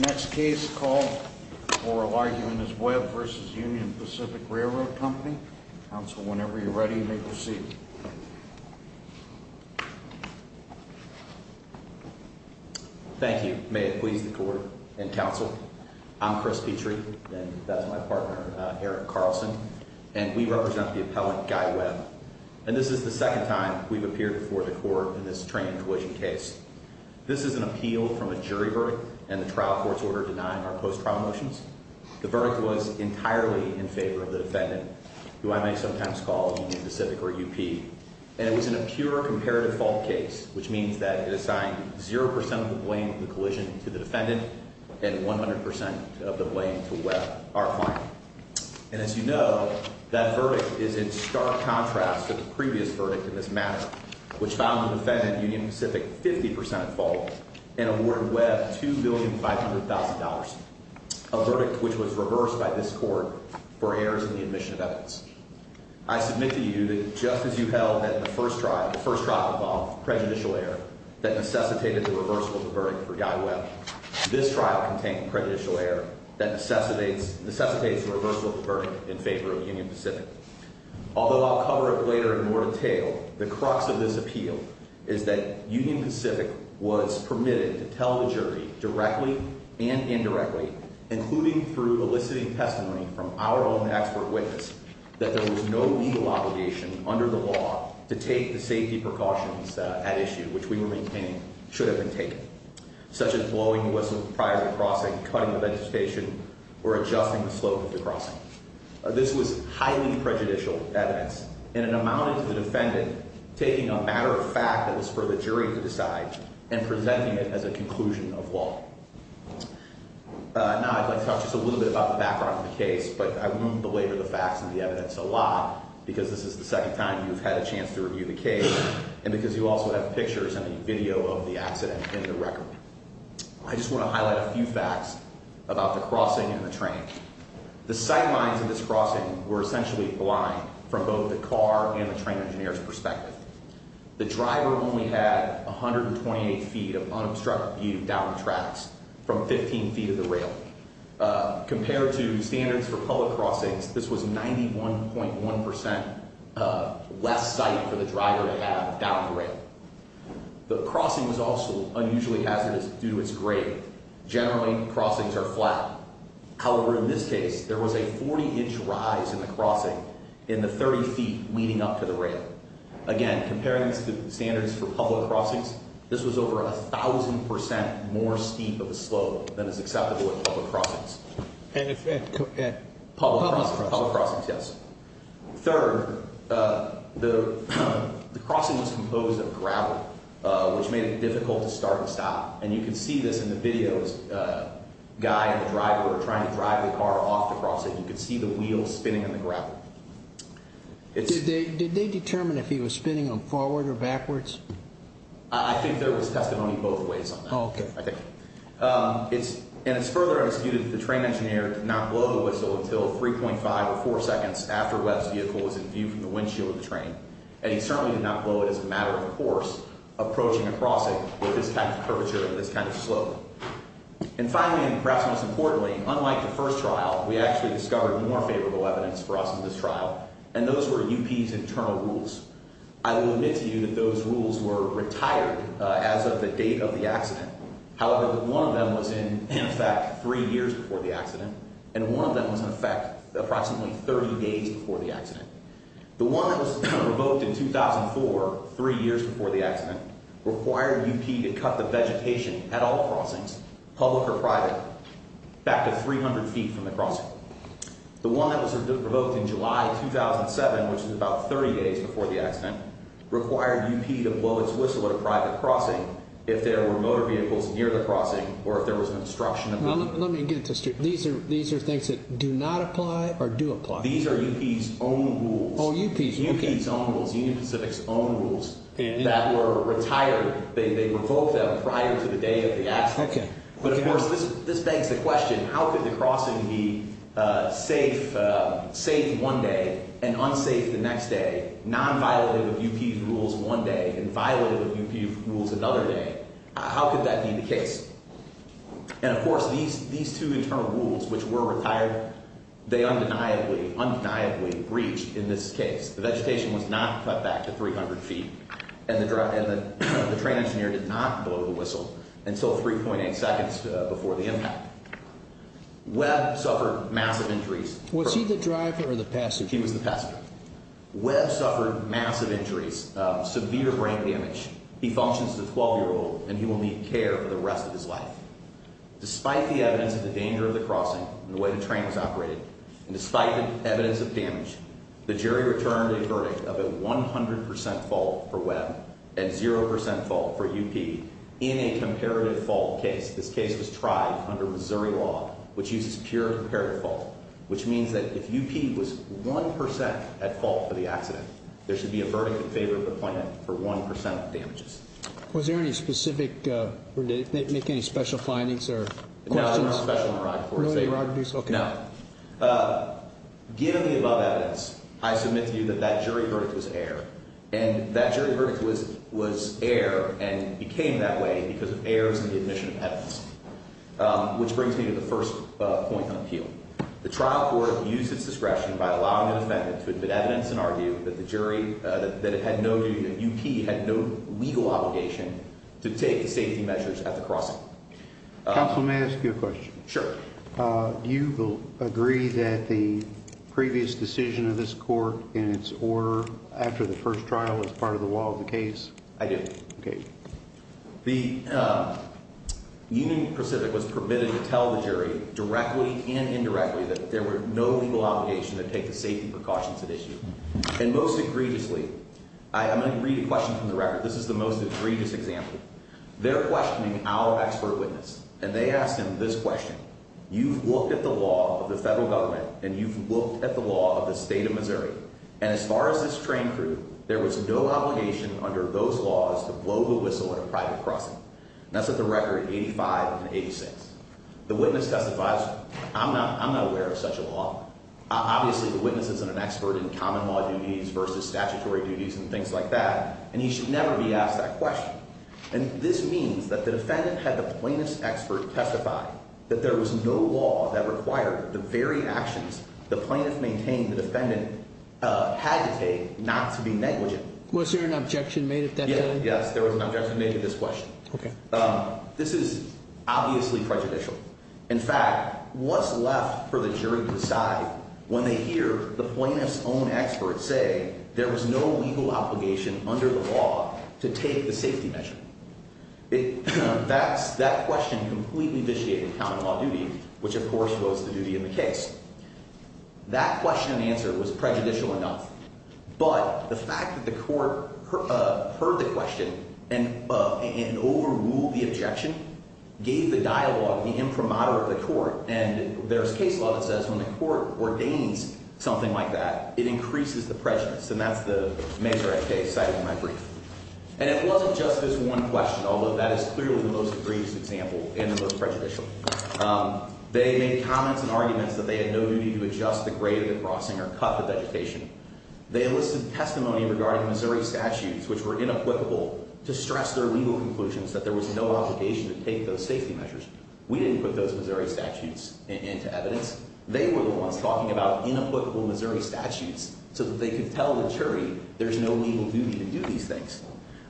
Next case called for arguing this web versus Union Pacific Railroad Company Council. Whenever you're ready, you may proceed. Thank you. May it please the court and Council. I'm Chris Petrie, and that's my partner, Eric Carlson, and we represent the appellant Guy Webb. And this is the second time we've appeared before the court in this train collision case. This is an appeal from a jury verdict and the trial court's order denying our post trial motions. The verdict was entirely in favor of the defendant, who I may sometimes call Union Pacific or U. P. And it was in a pure comparative fault case, which means that it assigned 0% of the blame of the collision to the defendant and 100% of the blame to web our client. And as you know, that verdict is in stark contrast to the previous verdict in this matter, which found the defendant Union Pacific 50% fault and awarded Webb $2,500,000, a verdict which was reversed by this court for errors in the admission of evidence. I submit to you that just as you held that the first trial, the first trial involved prejudicial air that necessitated the reversal of the verdict for Guy Webb. This trial contained prejudicial air that necessitates necessitates the reversal of the verdict in favor of Union Pacific. Although I'll cover it later in more detail, the crux of this appeal is that Union Pacific was permitted to tell the jury directly and indirectly, including through eliciting testimony from our own expert witness that there was no legal obligation under the law to take the safety precautions at issue, which we were maintaining should have been taken, such as blowing whistle prior to crossing, cutting the vegetation or adjusting the slope of the crossing. This was highly prejudicial evidence and it amounted to the defendant taking a matter of fact that was for the jury to decide and presenting it as a conclusion of law. Now I'd like to talk just a little bit about the background of the case, but I won't belabor the facts and the evidence a lot because this is the second time you've had a chance to review the case and because you also have pictures and a video of the accident in the record. I just want to highlight a few facts about the crossing and the train. The sight lines of this crossing were essentially blind from both the car and the train engineer's perspective. The driver only had 128 feet of unobstructed view down the tracks from 15 feet of the rail. Compared to standards for public crossings, this was 91.1% less sight for the driver to have down the rail. The crossing was also unusually hazardous due to its grade. Generally, crossings are flat. However, in this case, there was a 40-inch rise in the crossing in the 30 feet leading up to the rail. Again, comparing this to standards for public crossings, this was over 1,000% more steep of a slope than is acceptable at public crossings. And if it could get public crossings, yes. Third, the crossing was composed of gravel, which made it difficult to start and stop. And you can see this in the video. The guy and the driver were trying to drive the car off the crossing. You can see the wheels spinning in the gravel. Did they determine if he was spinning forward or backwards? I think there was testimony both ways on that. And it's further disputed that the train engineer did not blow the whistle until 3.5 or 4 seconds after Webb's vehicle was in view from the windshield of the train. And he certainly did not blow it as a kind of slope. And finally, and perhaps most importantly, unlike the first trial, we actually discovered more favorable evidence for us in this trial, and those were UP's internal rules. I will admit to you that those rules were retired as of the date of the accident. However, one of them was in effect three years before the accident, and one of them was in effect approximately 30 days before the accident. The one that was revoked in 2004, three years before the accident, required UP to cut the vegetation at all crossings, public or private, back to 300 feet from the crossing. The one that was revoked in July 2007, which is about 30 days before the accident, required UP to blow its whistle at a private crossing if there were motor vehicles near the crossing or if there was an obstruction. Let me get this straight. These are things that do not apply or do apply? These are UP's own rules. UP's own rules. Union Pacific's own rules that were retired. They revoked them prior to the day of the accident. But of course, this begs the question, how could the crossing be safe one day and unsafe the next day, non-violative of UP's rules one day and violative of UP's rules another day? How could that be the case? And of course, these two internal rules, which were retired, they were not the case. The vegetation was not cut back to 300 feet and the train engineer did not blow the whistle until 3.8 seconds before the impact. Webb suffered massive injuries. Was he the driver or the passenger? He was the passenger. Webb suffered massive injuries, severe brain damage. He functions as a 12 year old and he will need care for the rest of his life. Despite the evidence of the danger of the crossing and the way the train was operated, we returned a verdict of a 100% fault for Webb and 0% fault for UP in a comparative fault case. This case was tried under Missouri law, which uses pure comparative fault, which means that if UP was 1% at fault for the accident, there should be a verdict in favor of the plan for 1% of damages. Was there any specific, or did it make any special findings or questions? No, there was no special one arrived for. No. Given the above evidence, I submit to you that that jury verdict was air and that jury verdict was air and became that way because of errors in the admission of evidence, which brings me to the first point on appeal. The trial court used its discretion by allowing an offendant to admit evidence and argue that the jury, that it had no duty, that UP had no legal obligation to take the safety measures at the crossing. Counsel, may I ask you a agree that the previous decision of this court in its order after the first trial as part of the law of the case? I do. Okay. The Union Pacific was permitted to tell the jury directly and indirectly that there were no legal obligation to take the safety precautions at issue. And most egregiously, I'm going to read a question from the record. This is the most egregious example. They're questioning our expert witness and they asked him this federal government. And you've looked at the law of the state of Missouri. And as far as this train crew, there was no obligation under those laws to blow the whistle in a private crossing. That's what the record 85 86. The witness testifies. I'm not I'm not aware of such a law. Obviously, the witnesses and an expert in common law duties versus statutory duties and things like that. And he should never be asked that question. And this means that the defendant had the plaintiff's expert testify that there was no law that required the very actions the plaintiff maintained the defendant had to take not to be negligent. Was there an objection made at that? Yes, there was an objection made to this question. Okay. This is obviously prejudicial. In fact, what's left for the jury to decide when they hear the plaintiff's own experts say there was no legal obligation under the law to take the safety measure. It that's that question completely vitiated common law duty, which, of course, was the duty of the case. That question and answer was prejudicial enough. But the fact that the court heard the question and and overrule the objection gave the dialogue the imprimatur of the court and there's case law that says when the court ordains something like that, it increases the prejudice. And that's the major case cited in my brief. And it wasn't just this one question, although that is clearly the most egregious example and the most prejudicial. They made comments and arguments that they had no duty to adjust the grade of the crossing or cut the vegetation. They enlisted testimony regarding Missouri statutes, which were inapplicable to stress their legal conclusions that there was no obligation to take those safety measures. We didn't put those Missouri statutes into evidence. They were the ones talking about inapplicable Missouri statutes so that they could tell the jury there's no legal duty to do these things.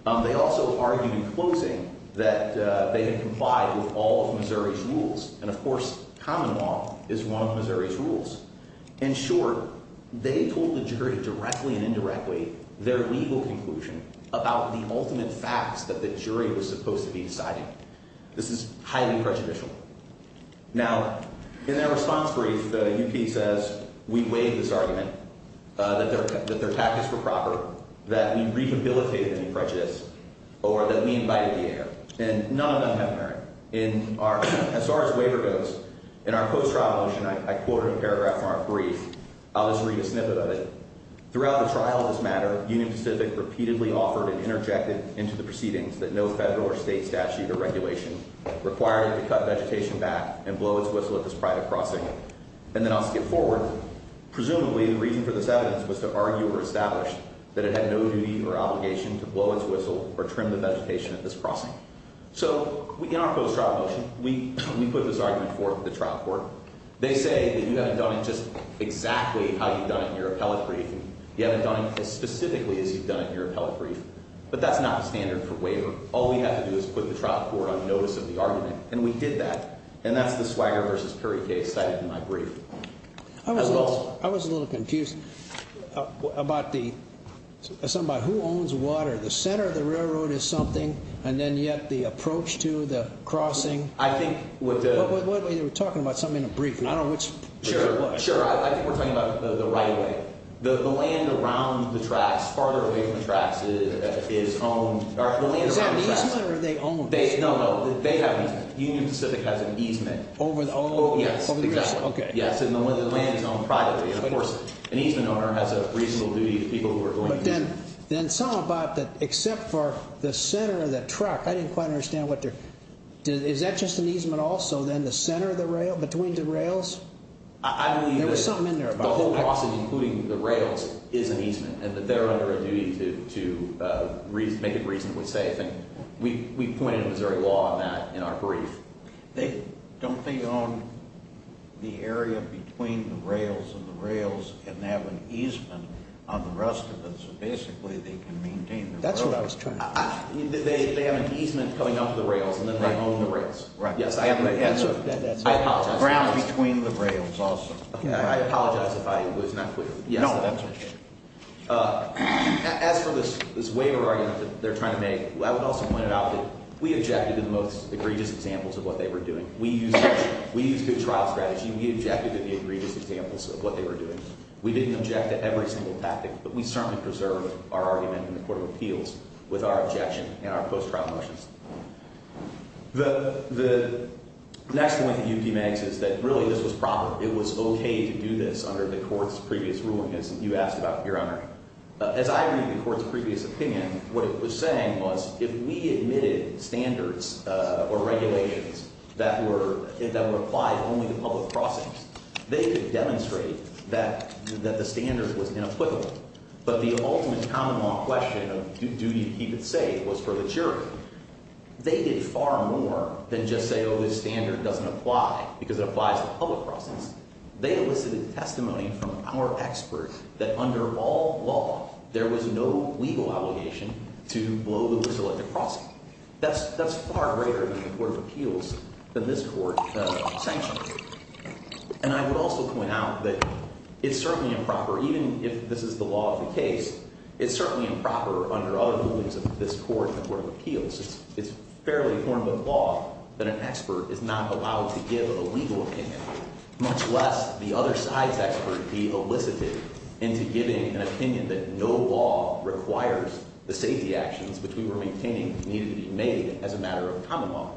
They also argued in closing that they had complied with all of Missouri's rules. And of course, common law is one of Missouri's rules. In short, they told the jury directly and indirectly their legal conclusion about the ultimate facts that the jury was supposed to be deciding. This is highly prejudicial. Now, in their response brief, the U.P. says we weighed this argument, that their tactics were proper, that we rehabilitated any prejudice, or that we invited the air. And none of them have merit. As far as waiver goes, in our post-trial motion, I quoted a paragraph from our brief. I'll just read a snippet of it. Throughout the trial of this matter, Union Pacific repeatedly offered and interjected into the proceedings that no federal or state statute or regulation required it to cut vegetation back and blow its whistle at this private crossing. And then I'll skip forward. Presumably the reason for this evidence was to argue or establish that it had no duty or obligation to blow its whistle or trim the vegetation at this crossing. So in our post-trial motion, we put this argument forth to the trial court. They say that you haven't done it just exactly how you've done it in your appellate brief. You haven't done it as specifically as you've done it in your appellate brief. But that's not the standard for waiver. All we have to do is put the trial court on notice of the argument. And we did that. And that's the Swagger v. Puri case cited in my brief. I was a little I was a little confused about the somebody who owns water. The center of the railroad is something and then yet the approach to the crossing. I think what they were talking about something in a brief. I don't know which. Sure. Sure. I think we're talking about the right way. The land around the tracks farther away from the tracks is owned. Is that an easement or are they owned? No, no, they have an easement. Union Pacific has an easement. Over the old. Yes. Okay. Yes. And the land is owned privately. And of course an easement owner has a reasonable duty to people who are going. But then something about that except for the center of the truck. I didn't quite understand what their is that just an easement also then the center of the rail between the rails. I don't know. There was something in there. The whole process including the rails is an easement and that they're under a duty to make it reasonably safe. And we pointed to Missouri law on that in our brief. Don't they own the area between the rails and the rails and they have an easement on the rest of it. So basically they can maintain. That's what I was trying to say. They have an easement coming off the rails and then they own the rails. Right. Yes. I have an answer. I apologize. Ground between the rails also. I apologize if I was not clear. No. As for this waiver argument that they're trying to make, I would also point out that we objected to the most egregious examples of what they were doing. We use good trial strategy. We objected to the egregious examples of what they were doing. We didn't object to every single tactic, but we certainly preserve our argument in the Court of Appeals with our objection and our post-trial motions. The next point that you can make is that really this was proper. It was okay to do this under the court's previous ruling as you asked about your memory. As I read the court's previous opinion, what it was saying was if we admitted standards or regulations that were applied only to public crossings, they could demonstrate that the standard was inapplicable. But the ultimate common law question of do you keep it safe was for the jury. They did far more than just say, oh, this standard doesn't apply because it applies to public crossings. They elicited testimony from our expert that under all law there was no legal obligation to blow the whistle at the crossing. That's far greater in the Court of Appeals than this court sanctioned. And I would also point out that it's certainly improper, even if this is the law of the case, it's certainly improper under other rulings of this court, the Court of Appeals. It's fairly form of law that an expert is not allowed to give a legal opinion, much less the other side's expert be elicited into giving an opinion that no law requires the safety actions which we were maintaining needed to be made as a matter of common law.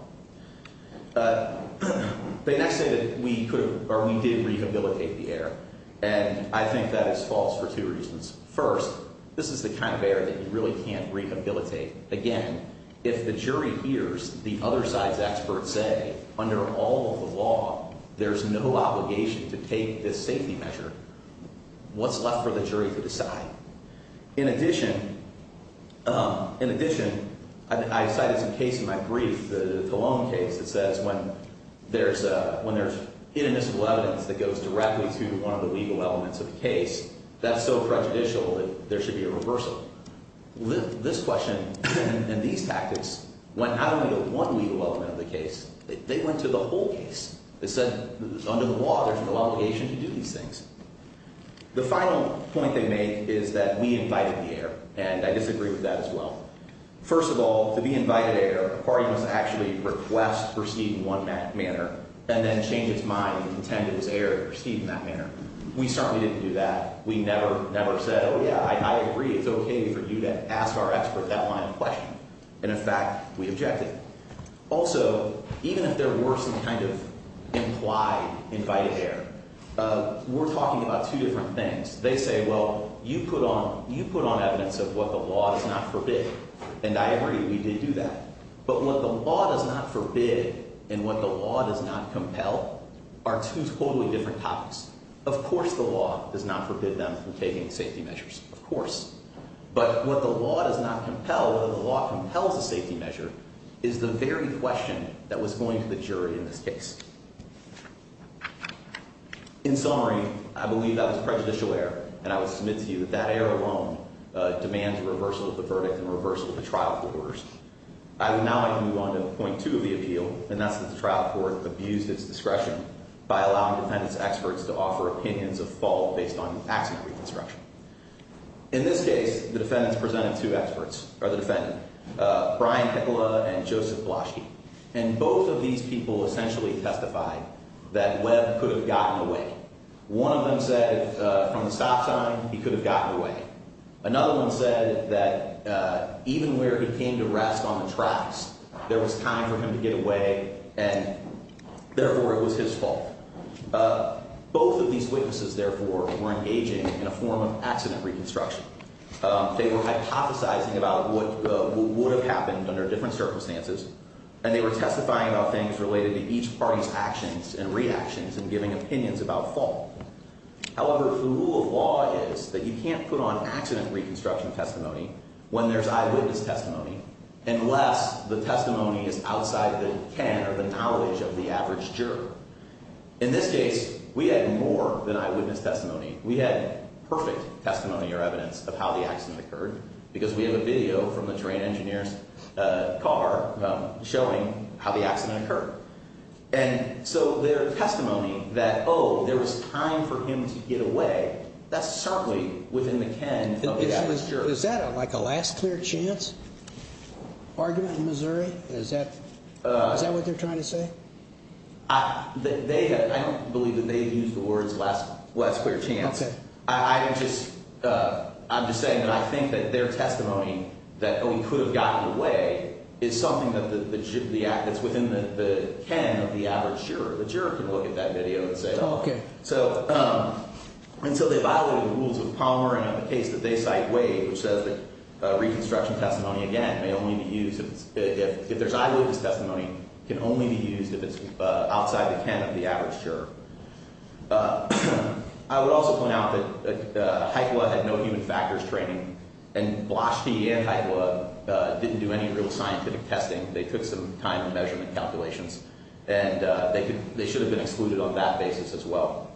They next say that we could or we did rehabilitate the air. And I think that is false for two reasons. First, this is the kind of air that you really can't rehabilitate. Again, if the jury hears the other side's expert say under all of the law, there's no obligation to take this safety measure, what's left for the jury to decide? In addition, in addition, I cited some case in my brief, the Talon case that says when there's when there's inadmissible evidence that goes directly to one of the legal elements of the case, that's so prejudicial that there should be a reversal. This question and these tactics went out of the one legal element of the case. They went to the whole case. They said under the law, there's no obligation to do these things. The final point they make is that we invited the air and I disagree with that as well. First of all, to be invited air, a party must actually request, proceed in one manner and then change its mind and contend it was air to proceed in that manner. We certainly didn't do that. We never, never said, oh, yeah, I agree. It's okay for you to ask our expert that line of And in fact, we objected. Also, even if there were some kind of implied invited air, we're talking about two different things. They say, well, you put on, you put on evidence of what the law does not forbid and I agree we did do that. But what the law does not forbid and what the law does not compel are two totally different topics. Of course, the law does not forbid them from taking safety measures, of course, but what the law does not compel, whether the law compels a safety measure is the very question that was going to the jury in this case. In summary, I believe that was prejudicial air and I would submit to you that that air alone demands reversal of the verdict and reversal of the trial court orders. Now I can move on to point two of the appeal and that's the trial court abused its discretion by allowing defendants experts to offer opinions of fault based on accident reconstruction. In this case, the defendants presented two experts or the defendant, Brian Pickle and Joseph Bloschke and both of these people essentially testified that Webb could have gotten away. One of them said from the stop sign he could have gotten away. Another one said that even where he came to rest on the tracks, there was time for him to get away and therefore it was his fault. Both of these defendants testified in a form of accident reconstruction. They were hypothesizing about what would have happened under different circumstances and they were testifying about things related to each party's actions and reactions and giving opinions about fault. However, the rule of law is that you can't put on accident reconstruction testimony when there's eyewitness testimony unless the testimony is outside the can or the knowledge of the average juror. In this case, we had more than eyewitness testimony. We had perfect testimony or evidence of how the accident occurred because we have a video from the train engineer's car showing how the accident occurred. And so their testimony that, oh, there was time for him to get away, that's certainly within the can of the average juror. Is that like a last clear chance argument in Missouri? Is that what they're trying to say? I don't believe that they used the words last clear chance. I'm just saying that I think that their testimony that we could have gotten away is something that's within the can of the average juror. The juror can look at that video and say, oh, okay. So until they violated the rules of Palmer and on the case that they cite Wade, which says that reconstruction testimony, again, may only be used if there's eyewitness testimony, can only be used if it's outside the can of the average juror. I would also point out that HIPLA had no human factors training and Blaschke and HIPLA didn't do any real scientific testing. They took some time and measurement calculations and they should have been excluded on that basis as well.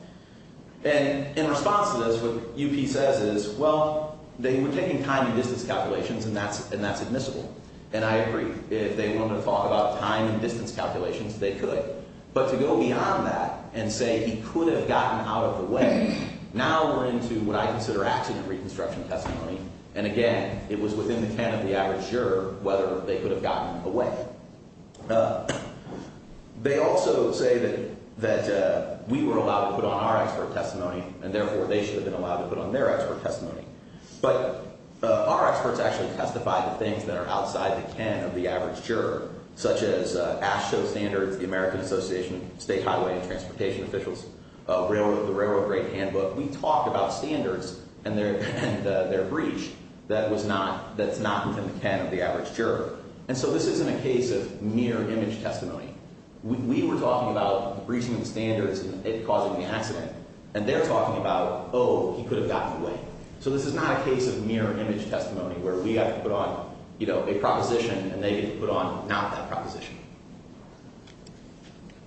And in response to this, what UP says is, well, they were taking time and distance calculations and that's admissible. And I agree. If they wanted to talk about time and distance calculations, they could. But to go beyond that and say he could have gotten out of the way, now we're into what I consider accident reconstruction testimony. And again, it was within the can of the average juror whether they could have gotten away. They also say that we were allowed to put on our expert testimony and therefore they should have been allowed to put on their expert testimony. But our experts actually testify to things that are outside the can of the average juror, such as AASHTO standards, the American Association of State Highway and Transportation Officials, the Railroad Grade Handbook. We talked about standards and their breach that's not within the can of the average juror. And so this isn't a case of mere image testimony. We were talking about the breaching of the standards and it causing the accident. And they're talking about, oh, he could have gotten away. So this is not a case of you know, a proposition and they get to put on not that proposition.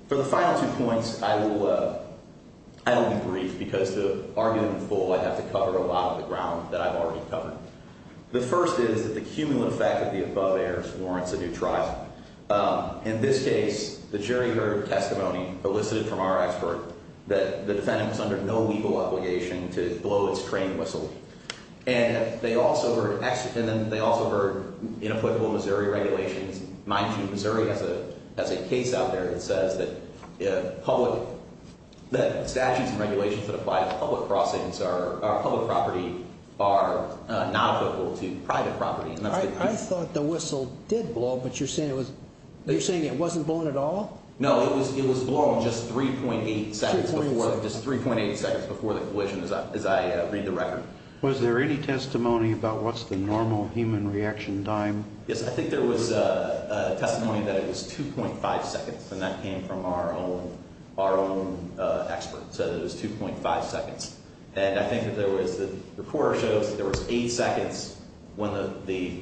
For the final two points, I will be brief because to argue them in full, I have to cover a lot of the ground that I've already covered. The first is that the cumulant effect of the above errors warrants a new trial. In this case, the jury heard testimony elicited from our expert that the defendant was under no legal obligation to blow its train whistle. And they also heard inapplicable Missouri regulations. Mind you, Missouri has a case out there that says that statutes and regulations that apply to public property are not applicable to private property. I thought the whistle did blow, but you're saying it wasn't blowing at all? No, it was blowing just 3.8 seconds before the collision, as I read the record. Was there any testimony about what's the normal human reaction time? Yes, I think there was a testimony that it was 2.5 seconds and that came from our own expert. So it was 2.5 seconds. And I think that there was the reporter shows that there was eight seconds when the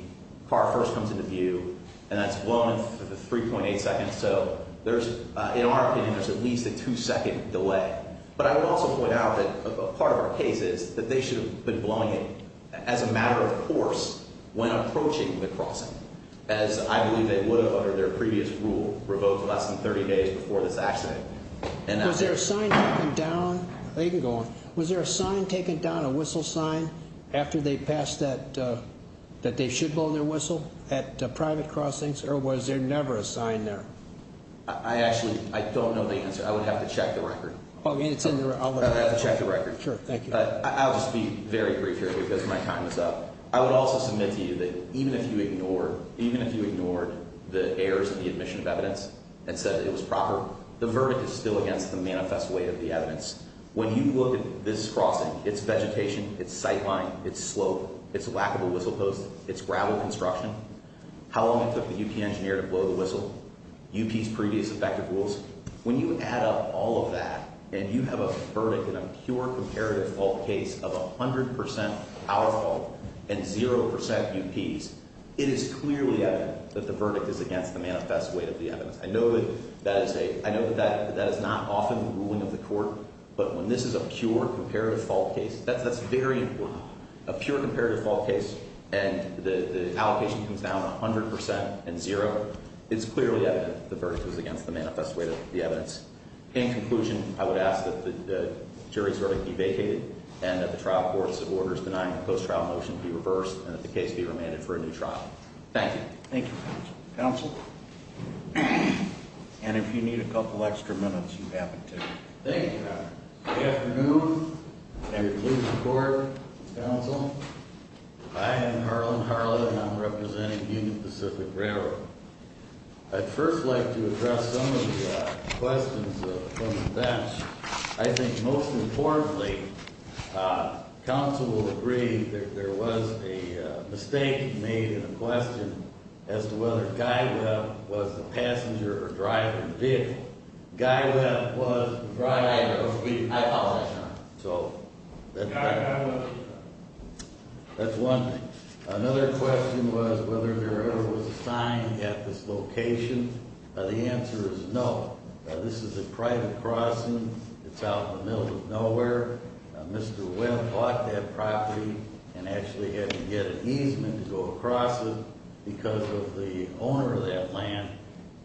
car first comes into view and that's blown in 3.8 seconds. So there's in our opinion, there's at least a two second delay. But I would also point out that a blowing it as a matter of course, when approaching the crossing, as I believe they would have under their previous rule, revoked less than 30 days before this accident. And was there a sign taken down? They can go on. Was there a sign taken down a whistle sign after they passed that, that they should blow their whistle at private crossings? Or was there never a sign there? I actually I don't know the answer. I would have to check the record. Oh, it's in there. I'll check the record. Sure. Thank you. I'll just be very brief here because my time is up. I would also submit to you that even if you ignored, even if you ignored the errors of the admission of evidence and said it was proper, the verdict is still against the manifest way of the evidence. When you look at this crossing, it's vegetation, it's sightline, it's slope, it's a lack of a whistle post, it's gravel construction, how long it took the UP engineer to blow the whistle, UP's previous effective rules. When you add up all of that, and you have a verdict in a pure comparative fault case of 100% power fault and 0% UP's, it is clearly evident that the verdict is against the manifest way of the evidence. I know that that is a, I know that that is not often the ruling of the court, but when this is a pure comparative fault case, that's very important. A pure comparative fault case and the allocation comes down 100% and zero, it's clearly evident the verdict was against the manifest way of the evidence. In conclusion, I would ask that the jury's verdict be vacated and that the trial courts of orders denying the post-trial motion be reversed and that the case be remanded for a new trial. Thank you. Thank you, counsel. And if you need a couple extra minutes, you have it too. Thank you, Your Honor. Good afternoon, and good closing report, counsel. I am Harlan Harla and I'm representing Union Pacific Railroad. I'd first like to address the questions from the bench. I think most importantly, counsel will agree that there was a mistake made in the question as to whether Guy Webb was the passenger or driver of the vehicle. Guy Webb was the driver of the vehicle. I thought that's right. Guy Webb was the driver. That's one thing. Another question was whether there ever was a sign at this location. The answer is no. This is a private crossing. It's out in the middle of nowhere. Mr. Webb bought that property and actually had to get an easement to go across it because of the owner of that land.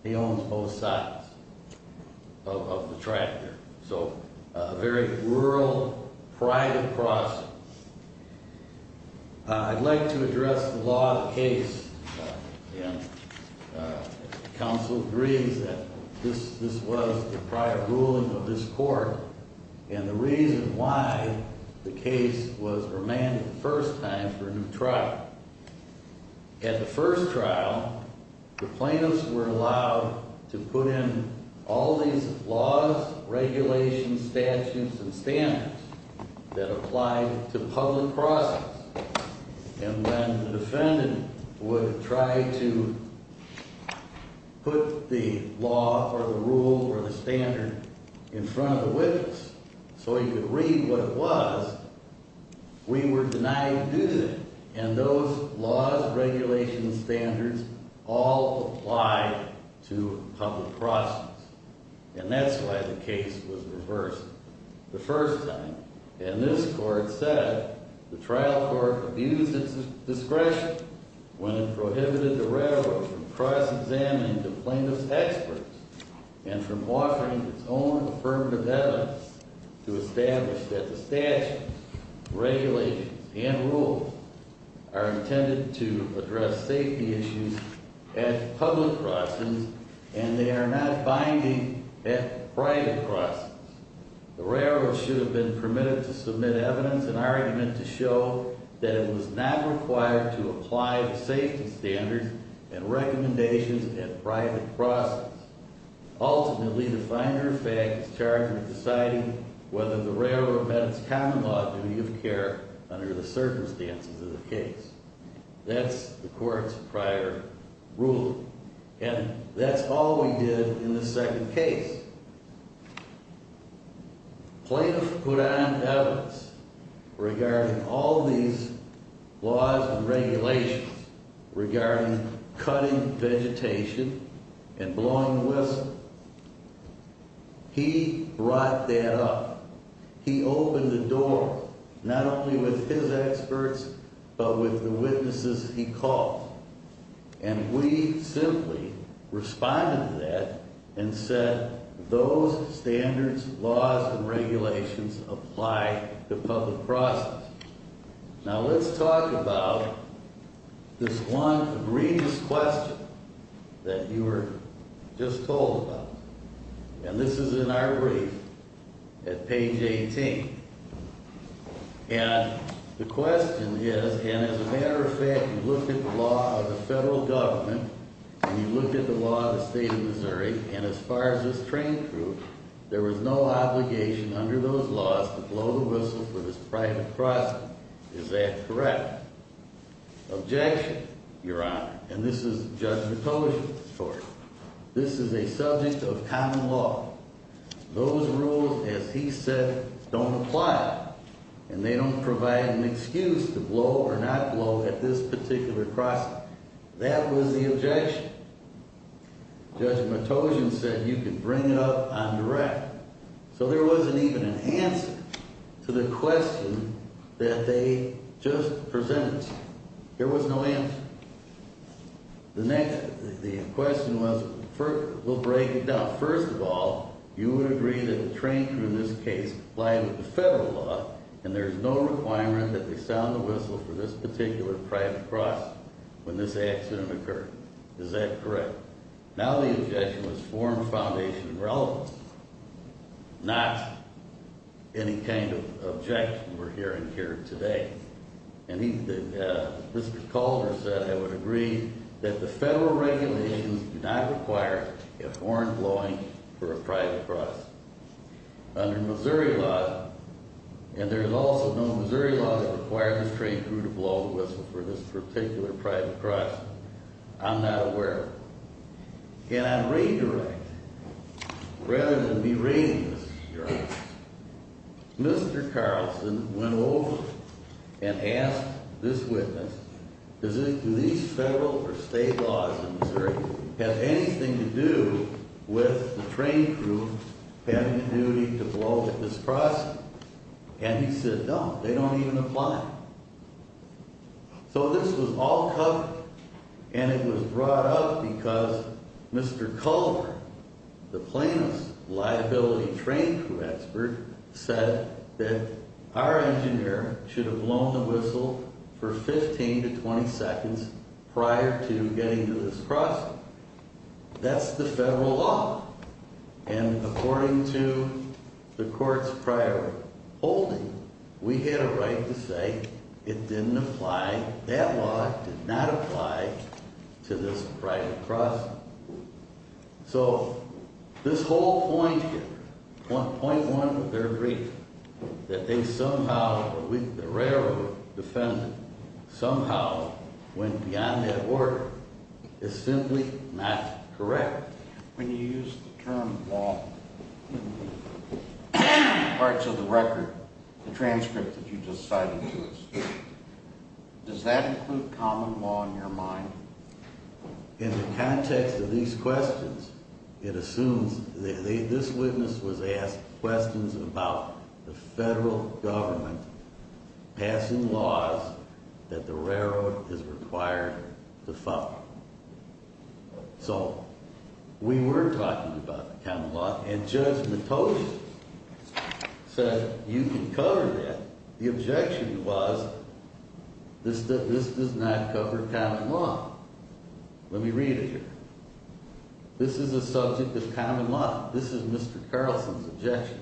He owns both sides of the tractor. So a very rural, private crossing. I'd like to address the law of the land. Counsel agrees that this was the prior ruling of this court, and the reason why the case was remanded the first time for a new trial. At the first trial, the plaintiffs were allowed to put in all these laws, regulations, statutes, and would try to put the law or the rule or the standard in front of the witness so he could read what it was. We were denied to do that, and those laws, regulations, standards all apply to public crossings, and that's why the case was reversed the first time. And this court said the trial court abused its discretion when it prohibited the railroad from cross-examining the plaintiff's experts and from offering its own affirmative evidence to establish that the statute, regulations, and rules are intended to address safety issues at public crossings, and they are not binding at private crossings. The railroad should have been permitted to submit evidence and argument to show that it was not required to apply the safety standards and recommendations at private crossings. Ultimately, the finer fact is charged with deciding whether the railroad met its common law duty of care under the circumstances of the case. That's the court's prior ruling, and that's all we did in the second case. Plaintiff put on evidence regarding all these laws and regulations regarding cutting vegetation and blowing whistle. He brought that up. He opened the door, not only with his experts, but with the witnesses he called, and we simply responded to that and said those standards, laws, and regulations apply to public crossings. Now let's talk about this one egregious question that you were just told about, and this is in our brief at page 18. And the question is, and as a matter of fact, you looked at the law of the federal government and you looked at the law of the state of Missouri, and as far as this train crew, there was no obligation under those laws to blow the whistle for this private crossing. Is that correct? Objection, Your Honor. And this is Judge Matosian's story. This is a subject of common law. Those rules, as he said, don't apply, and they don't provide an excuse to blow or not blow at this particular crossing. That was the objection. Judge Matosian said you can bring it up on direct. So there wasn't even an answer to the question that they just presented. There was no answer. The next, the question was, we'll break it down. First of all, you would agree that the train crew in this case lie with the federal law and there's no requirement that they sound the whistle for this particular private crossing when this accident occurred. Is that correct? Now the objection was formed foundation and relevance, not any kind of objection we're hearing here today. And Mr. Calder said I would agree that the federal regulations do not require a horn blowing for a private crossing. Under Missouri law, and there's also no Missouri law that requires the train crew to blow the whistle for this particular private crossing. I'm not aware of it. Can I redirect, rather than berate, Mr. Carlson went over and asked this witness, do these federal or state laws in Missouri have anything to do with the train crew having the duty to blow at this crossing? And he said no, they don't even apply. So this was all covered and it was brought up because Mr. Calder, the plaintiff's liability train crew expert, said that our engineer should have blown the whistle for 15 to 20 seconds prior to getting to this crossing. That's the federal law. And according to the court's prior holding, we had a right to say it didn't apply. That law did not apply to this private crossing. So this whole point here, point one of their brief, that they somehow, the railroad defendant, somehow went beyond that order, is simply not correct. When you use the term law in parts of the record, the transcript that you just cited to us, does that include common law in your mind? In the context of these questions, it assumes, this witness was asked questions about the following. So we were talking about the common law and Judge Matogian said you can cover that. The objection was this does not cover common law. Let me read it here. This is a subject of common law. This is Mr. Carlson's objection.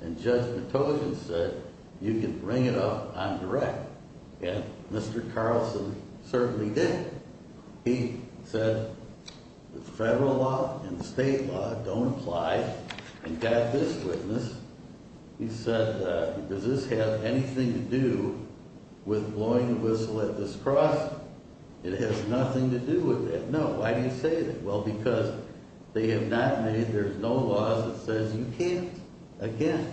And Judge Matogian said you can bring it up on direct. And Mr. Carlson certainly did. He said the federal law and the state law don't apply. And got this witness. He said, does this have anything to do with blowing the whistle at this crossing? It has nothing to do with that. No. Why do you say that? Well, because they have not made, there's no laws that says you can't. Again,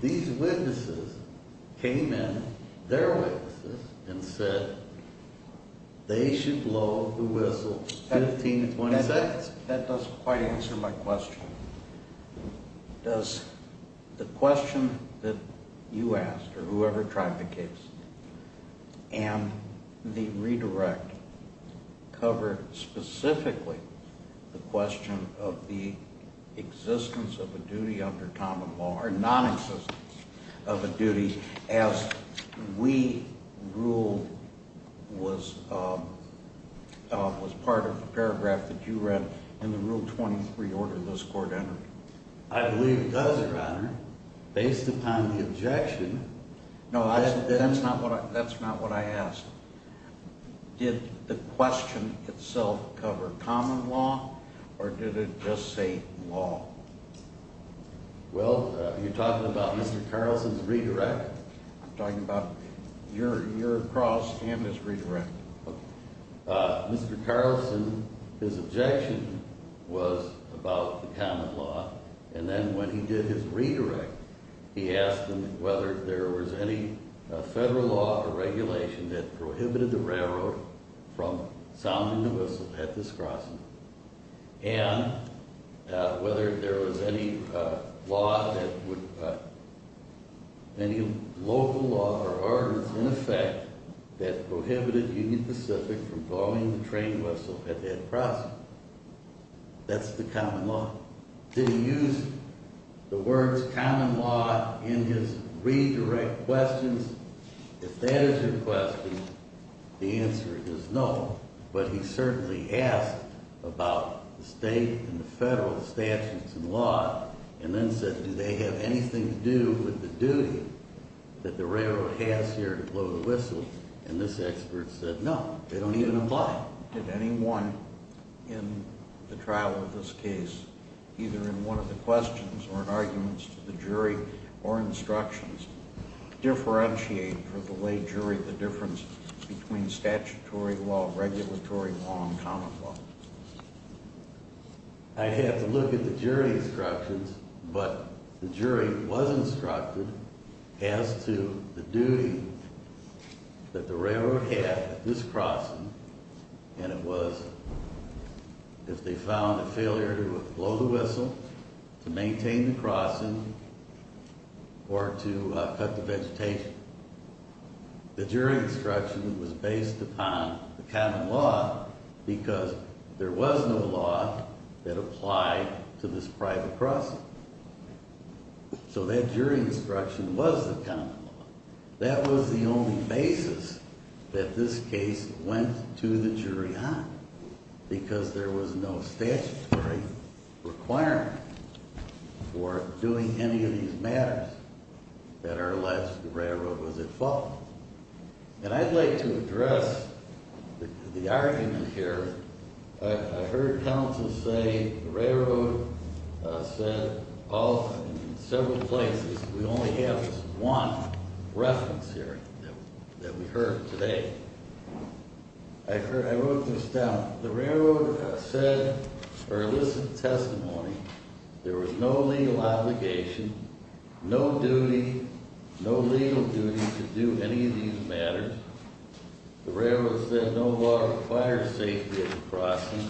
these witnesses came in, their witnesses, and said they should blow the whistle 15 to 20 seconds. That doesn't quite answer my question. Does the question that you asked or whoever tried the case and the redirect cover specifically the question of the existence of a duty under common law or nonexistence of a duty as we ruled was was part of the paragraph that you read in the rule 23 order this court entered? I believe it does, Your Honor, based upon the objection. No, that's not what I that's not what I asked. Did the question itself cover common law? Or did it just say law? Well, you're talking about Mr Carlson's redirect talking about your year across and this redirect Mr Carlson. His objection was about the common law. And then when he did his redirect, he asked him whether there was any federal law or regulation that prohibited the railroad from sounding the whistle at this crossing. And whether there was any law that would any local law or ordinance in effect that prohibited Union Pacific from blowing the train whistle at that crossing. That's the common law. Did he use the words common law in his redirect questions? If that is your question, the answer is no. But he certainly asked about the state and the federal statutes and law and then said, Do they have anything to do with the duty that the railroad has here to blow the whistle? And this expert said, No, they don't even apply. Did anyone in the trial of this case, either in one of the questions or in arguments to the jury or instructions differentiate for the way jury the difference between statutory law, regulatory law and common law? I have to look at the jury instructions, but the jury was instructed as to the duty that the railroad had this crossing. And it was if they found a blow the whistle to maintain the crossing or to cut the vegetation, the jury instruction was based upon the common law because there was no law that applied to this private crossing. So that jury instruction was the kind of law that was the only basis that this case went to the jury on because there was no statutory requirement for doing any of these matters that are alleged the railroad was at fault. And I'd like to address the argument here. I heard counsel say railroad said all several places. We only have one reference here that we heard today. I wrote this down. The railroad said or elicit testimony. There was no legal obligation, no duty, no legal duty to do any of these matters. The railroad said no law requires safety at the crossing.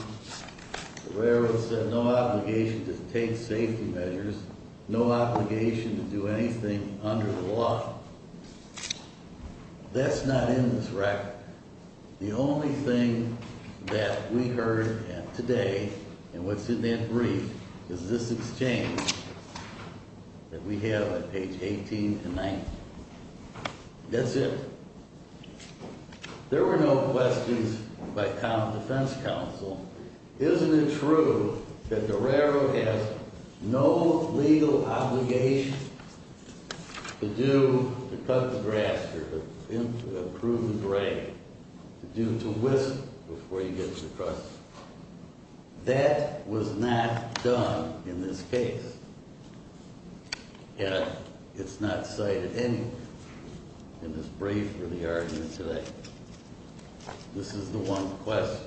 The railroad said no obligation to take safety measures, no obligation to do anything under the law. That's not in this record. The only thing that we heard today and what's in that brief is this exchange that we have on page 18 and 19. That's it. There were no questions by common defense counsel. Isn't it true that to cut the grass or to prune the grain, to do, to whisk before you get to the crossing. That was not done in this case. And it's not cited anywhere in this brief for the argument today. This is the one question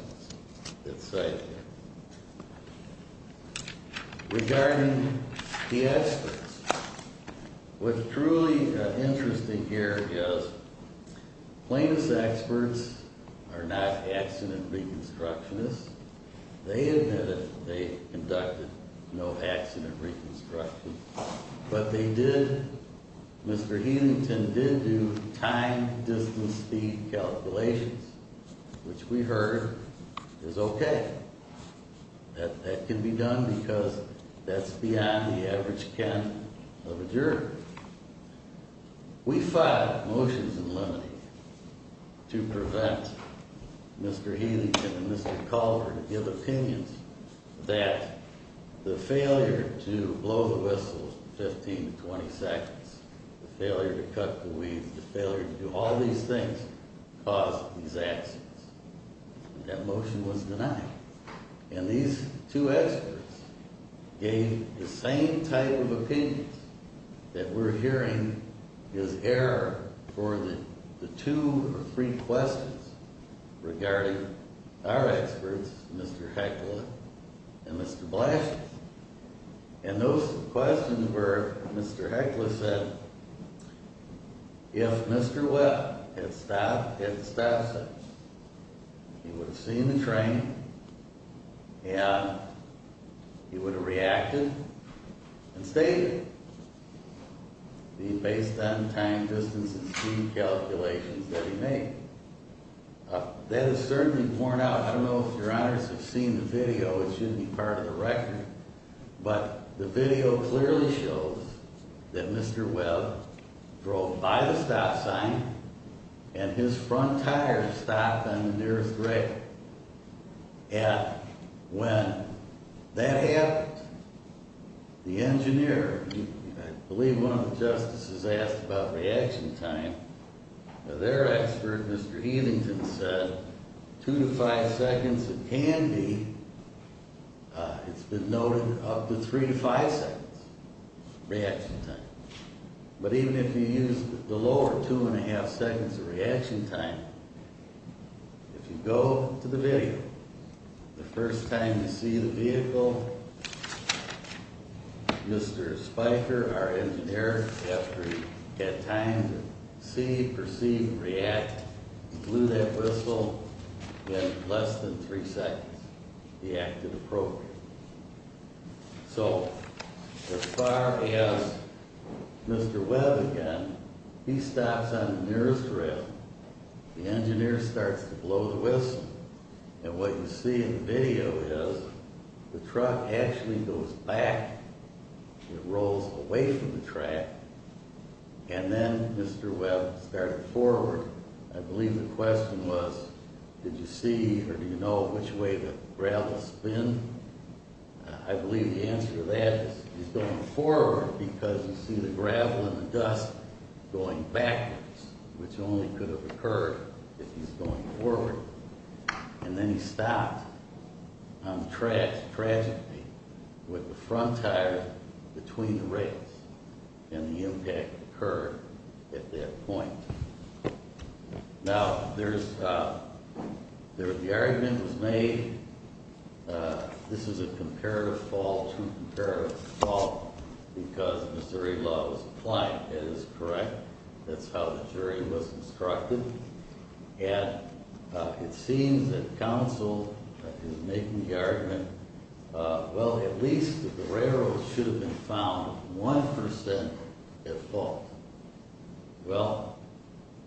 that's cited. Regarding the experts, what's truly interesting here is plaintiff's experts are not accident reconstructionists. They admitted they conducted no accident reconstruction, but they did. Mr Healington did do time distance speed calculations, which we have adjourned. We filed motions in limine to prevent Mr Healington and Mr Calder to give opinions that the failure to blow the whistle 15 to 20 seconds, the failure to cut the weeds, the failure to do all these things caused these accidents. That motion was denied, and these two experts gave the same type of opinions that we're hearing is error for the two or three questions regarding our experts, Mr Heckler and Mr Blanton. And those questions were Mr Heckler said if Mr Webb had stopped at the stop sign, he would have seen the train and he would have reacted and stated being based on time, distance and speed calculations that he made. That is certainly worn out. I don't know if your honors have seen the video. It shouldn't be part of the record, but the video clearly shows that Mr Webb drove by the stop sign and his front tires stopped on the nearest rail. And when that happened, the engineer, I believe one of the justices asked about reaction time. Their expert, Mr Healington, said two to five seconds. It can be. It's been noted up to three to five seconds reaction time. But even if you use the lower two and a half seconds of reaction time, if you go to the video, the first time you see the vehicle, Mr Spiker, our engineer, after he had time to see, perceive, react, blew that whistle in less than three seconds, reacted appropriately. So as far as Mr Webb again, he stops on the nearest rail. The engineer starts to blow the whistle. And what you see in the video is the truck actually goes back. It rolls away from the track. And then Mr Webb started forward. I believe the question was, did you see or do you know which way gravel spin? I believe the answer to that is going forward because you see the gravel and the dust going backwards, which only could have occurred if he's going forward. And then he stopped on the track, tragically, with the front tire between the rails and the impact occurred at that point. Now, there's, uh, the argument was made. This is a comparative fault. Because Missouri loves flying is correct. That's how the jury was instructed. And it seems that counsel is making the argument. Well, at least the railroad should have been found 1% at fault. Well,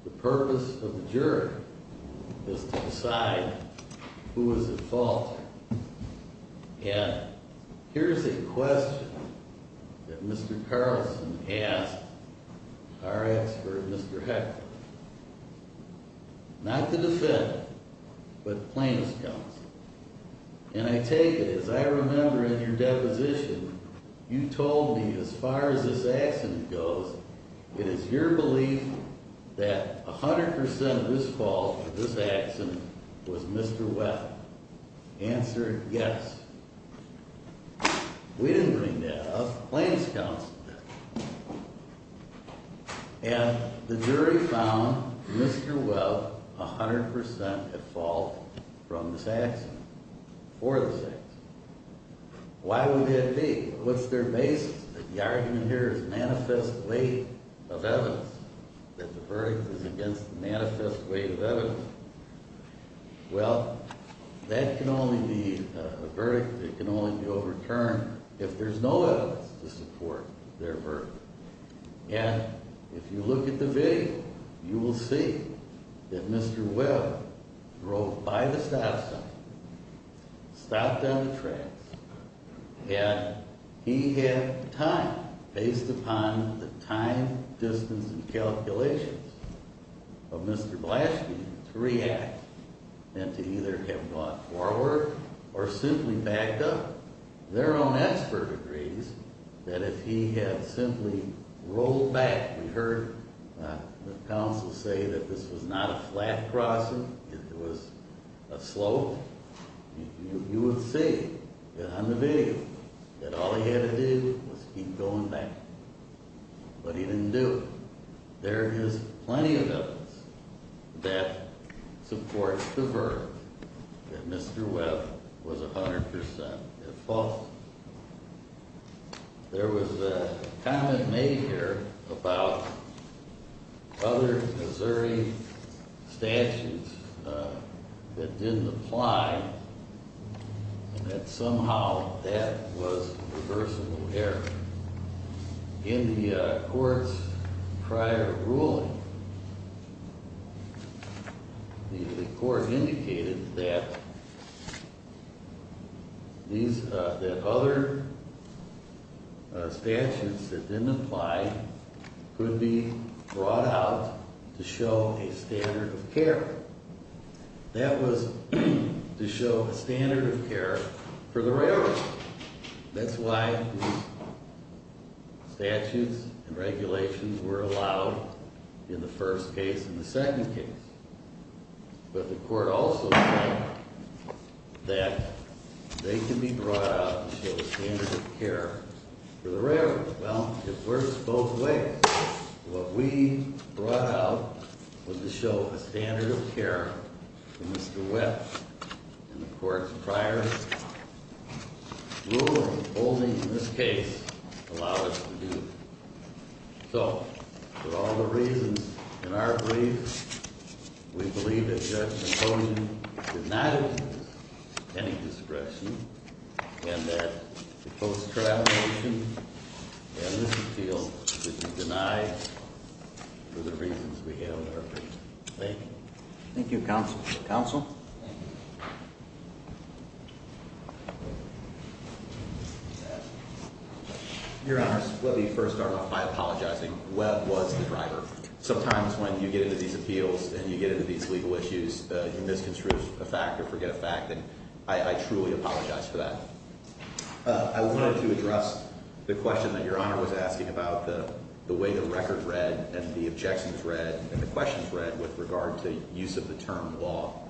the purpose of the juror is to decide who is at fault. And here's a question that Mr Carlson asked our expert, Mr Heckler. Not to defend, but plaintiff's counsel. And I take it as I remember in your deposition, you told me as far as this accident goes, it is your belief that 100% of this fault of this accident was Mr Webb. Answer, yes. We didn't bring that up. Plaintiff's counsel did. And the jury found Mr Webb 100% at fault from this accident, for this Why would that be? What's their basis? The argument here is manifest weight of evidence that the verdict is against the manifest weight of evidence. Well, that can only be a verdict that can only be overturned if there's no evidence to support their verdict. And if you look at the video, you will see that Mr Webb drove by the stop sign, stopped down the tracks, and he had time based upon the time, distance and calculations of Mr Blaschke to react and to either have gone forward or simply backed up. Their own expert agrees that if he had simply rolled back, we heard the counsel say that this was not a flat crossing. It was a slope. You would see on the video that all he had to do was keep going back. But he didn't do it. There is plenty of evidence that supports the verdict that Mr Webb was 100% at fault. There was a comment made here about other Missouri statutes that didn't apply and that somehow that was reversible error. In the court's prior ruling, the court indicated that these other statutes that didn't apply could be brought out to show a standard of care. That was to show a standard of care for the railroad. That's why these statutes and regulations were allowed in the first case and the second case. But the court also said that they can be brought out to show a standard of care for the railroad. Well, it works both ways. What we brought out was to show a standard of care for Mr Webb. In the court's prior ruling, only this case allowed us to do it. So for all the reasons in our brief, we believe that Judge Santoni denied any discretion and that the post-trial motion and this appeal should be denied for the reasons we have in our brief. Thank you. Thank you, Counsel. Counsel. Your Honor, let me first start off by apologizing. Webb was the driver. Sometimes when you get into these appeals and you get into these legal issues, you misconstrue a fact or forget a fact. And I truly apologize for that. I wanted to address the question that Your Honor was asking about the way the record read and the objections read and the questions read with regard to use of the term law.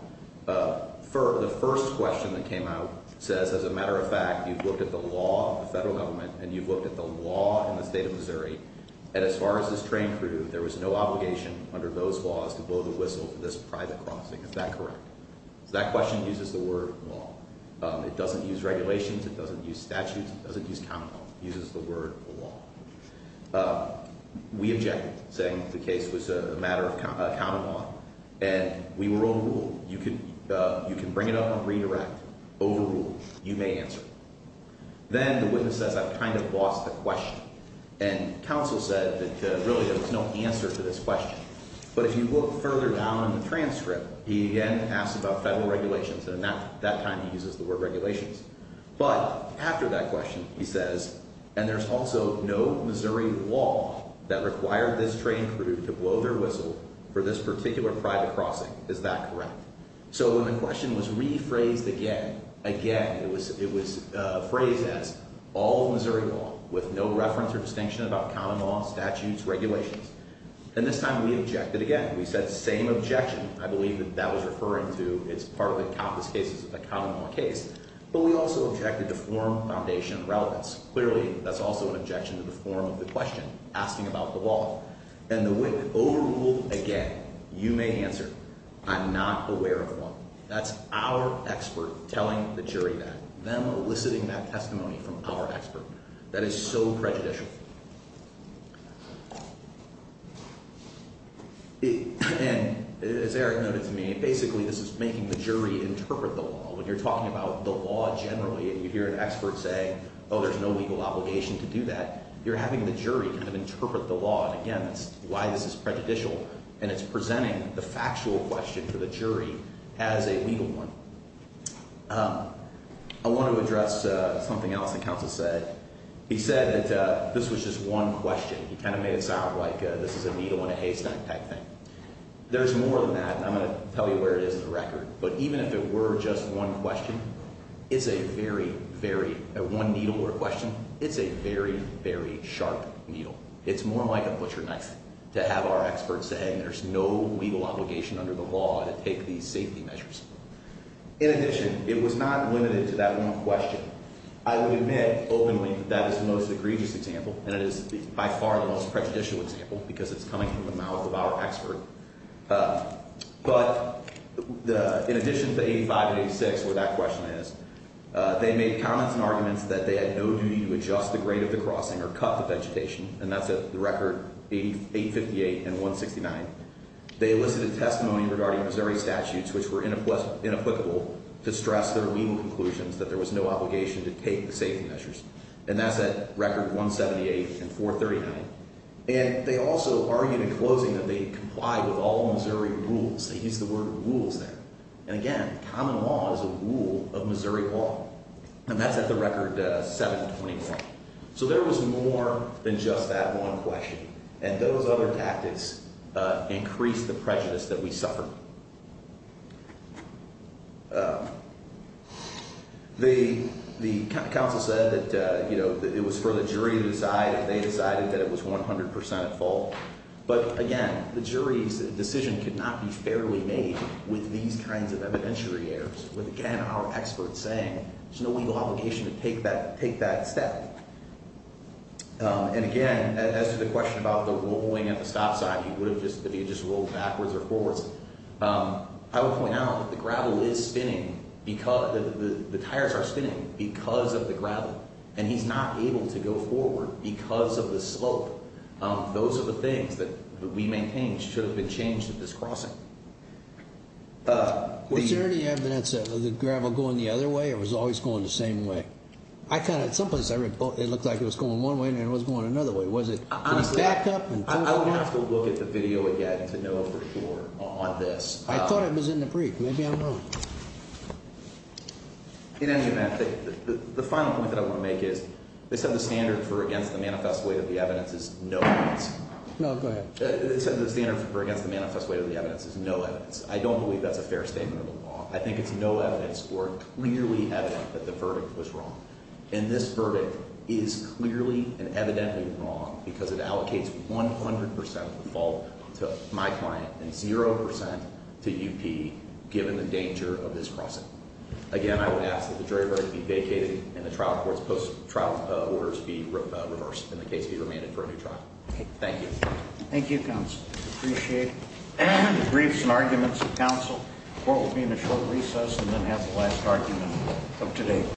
The first question that came out says, as a matter of fact, you've looked at the law of the federal government and you've looked at the law in the state of Missouri. And as far as this train crew, there was no obligation under those laws to blow the whistle for this private crossing. Is that correct? That question uses the word law. It doesn't use regulations. It doesn't use statutes. It doesn't use countenance. It uses the word law. We objected, saying the case was a matter of countenance and we were overruled. You can bring it up on redirect. Overruled. You may answer. Then the witness says, I've kind of lost the question. And counsel said that really there was no answer to this question. But if you look further down in the transcript, he again asked about federal regulations. And that time he uses the word regulations. But after that question, he says, and there's also no Missouri law that required this train crew to blow their whistle for this So when the question was rephrased again, again, it was it was phrased as all Missouri law with no reference or distinction about common law, statutes, regulations. And this time we objected again. We said same objection. I believe that that was referring to. It's part of the compass cases of the common law case. But we also objected to form foundation relevance. Clearly that's also an objection to the form of the question asking about the law and the witness overruled again. You may answer. I'm not aware of one. That's our expert telling the jury that. Them eliciting that testimony from our expert. That is so prejudicial. And as Eric noted to me, basically this is making the jury interpret the law. When you're talking about the law generally and you hear an expert say, oh, there's no legal obligation to do that. You're having the jury kind of why this is prejudicial and it's presenting the factual question for the jury as a legal one. I want to address something else that counsel said. He said that this was just one question. He kind of made it sound like this is a needle in a haystack type thing. There's more than that. I'm going to tell you where it is in the record. But even if it were just one question, it's a very, very one needle or question. It's a very, very sharp needle. It's more like a butcher knife to have our experts saying there's no legal obligation under the law to take these safety measures. In addition, it was not limited to that one question. I would admit openly that is the most egregious example and it is by far the most prejudicial example because it's coming from the mouth of our expert. But in addition to 85 and 86 where that question is, they made comments and arguments that they had no duty to record 858 and 169. They elicited testimony regarding Missouri statutes which were inapplicable to stress their legal conclusions that there was no obligation to take the safety measures. And that's at record 178 and 439. And they also argued in closing that they complied with all Missouri rules. They used the word rules there. And again, common law is a rule of Missouri law. And that's at the record 721. So there was more than just that one question. And those other tactics increased the prejudice that we suffered. The counsel said that, you know, it was for the jury to decide if they decided that it was 100% at fault. But again, the jury's decision could not be fairly made with these kinds of evidentiary errors, with again our experts saying there's no legal obligation to take that step. And again, as to the question about the rolling at the stop sign, he would have just, if he had just rolled backwards or forwards, I would point out that the gravel is spinning because the tires are spinning because of the gravel. And he's not able to go forward because of the slope. Those are the things that we maintain should have been changed at this crossing. Was there any evidence of the gravel going the other way? It was always going the same way. I kind of, someplace I read, it looked like it was going one way and it was going another way. Was it backed up? I would have to look at the video again to know for sure on this. I thought it was in the brief. Maybe I'm wrong. In any event, the final point that I want to make is, they said the standard for against the manifest weight of the evidence is no evidence. No, go ahead. The standard for against the manifest weight of the evidence is no evidence. I don't believe that's a fair statement of the law. I think it's no evidence or clearly evident that the verdict was wrong. And this verdict is clearly and evidently wrong because it allocates 100% of the fault to my client and 0% to UP, given the danger of this crossing. Again, I would ask that the jury be vacated and the trial court's post-trial orders be reversed and the case be suspended for a new trial. Thank you. Thank you, Counsel. Appreciate the briefs and arguments of counsel. The court will be in a short recess and then have the last argument of today.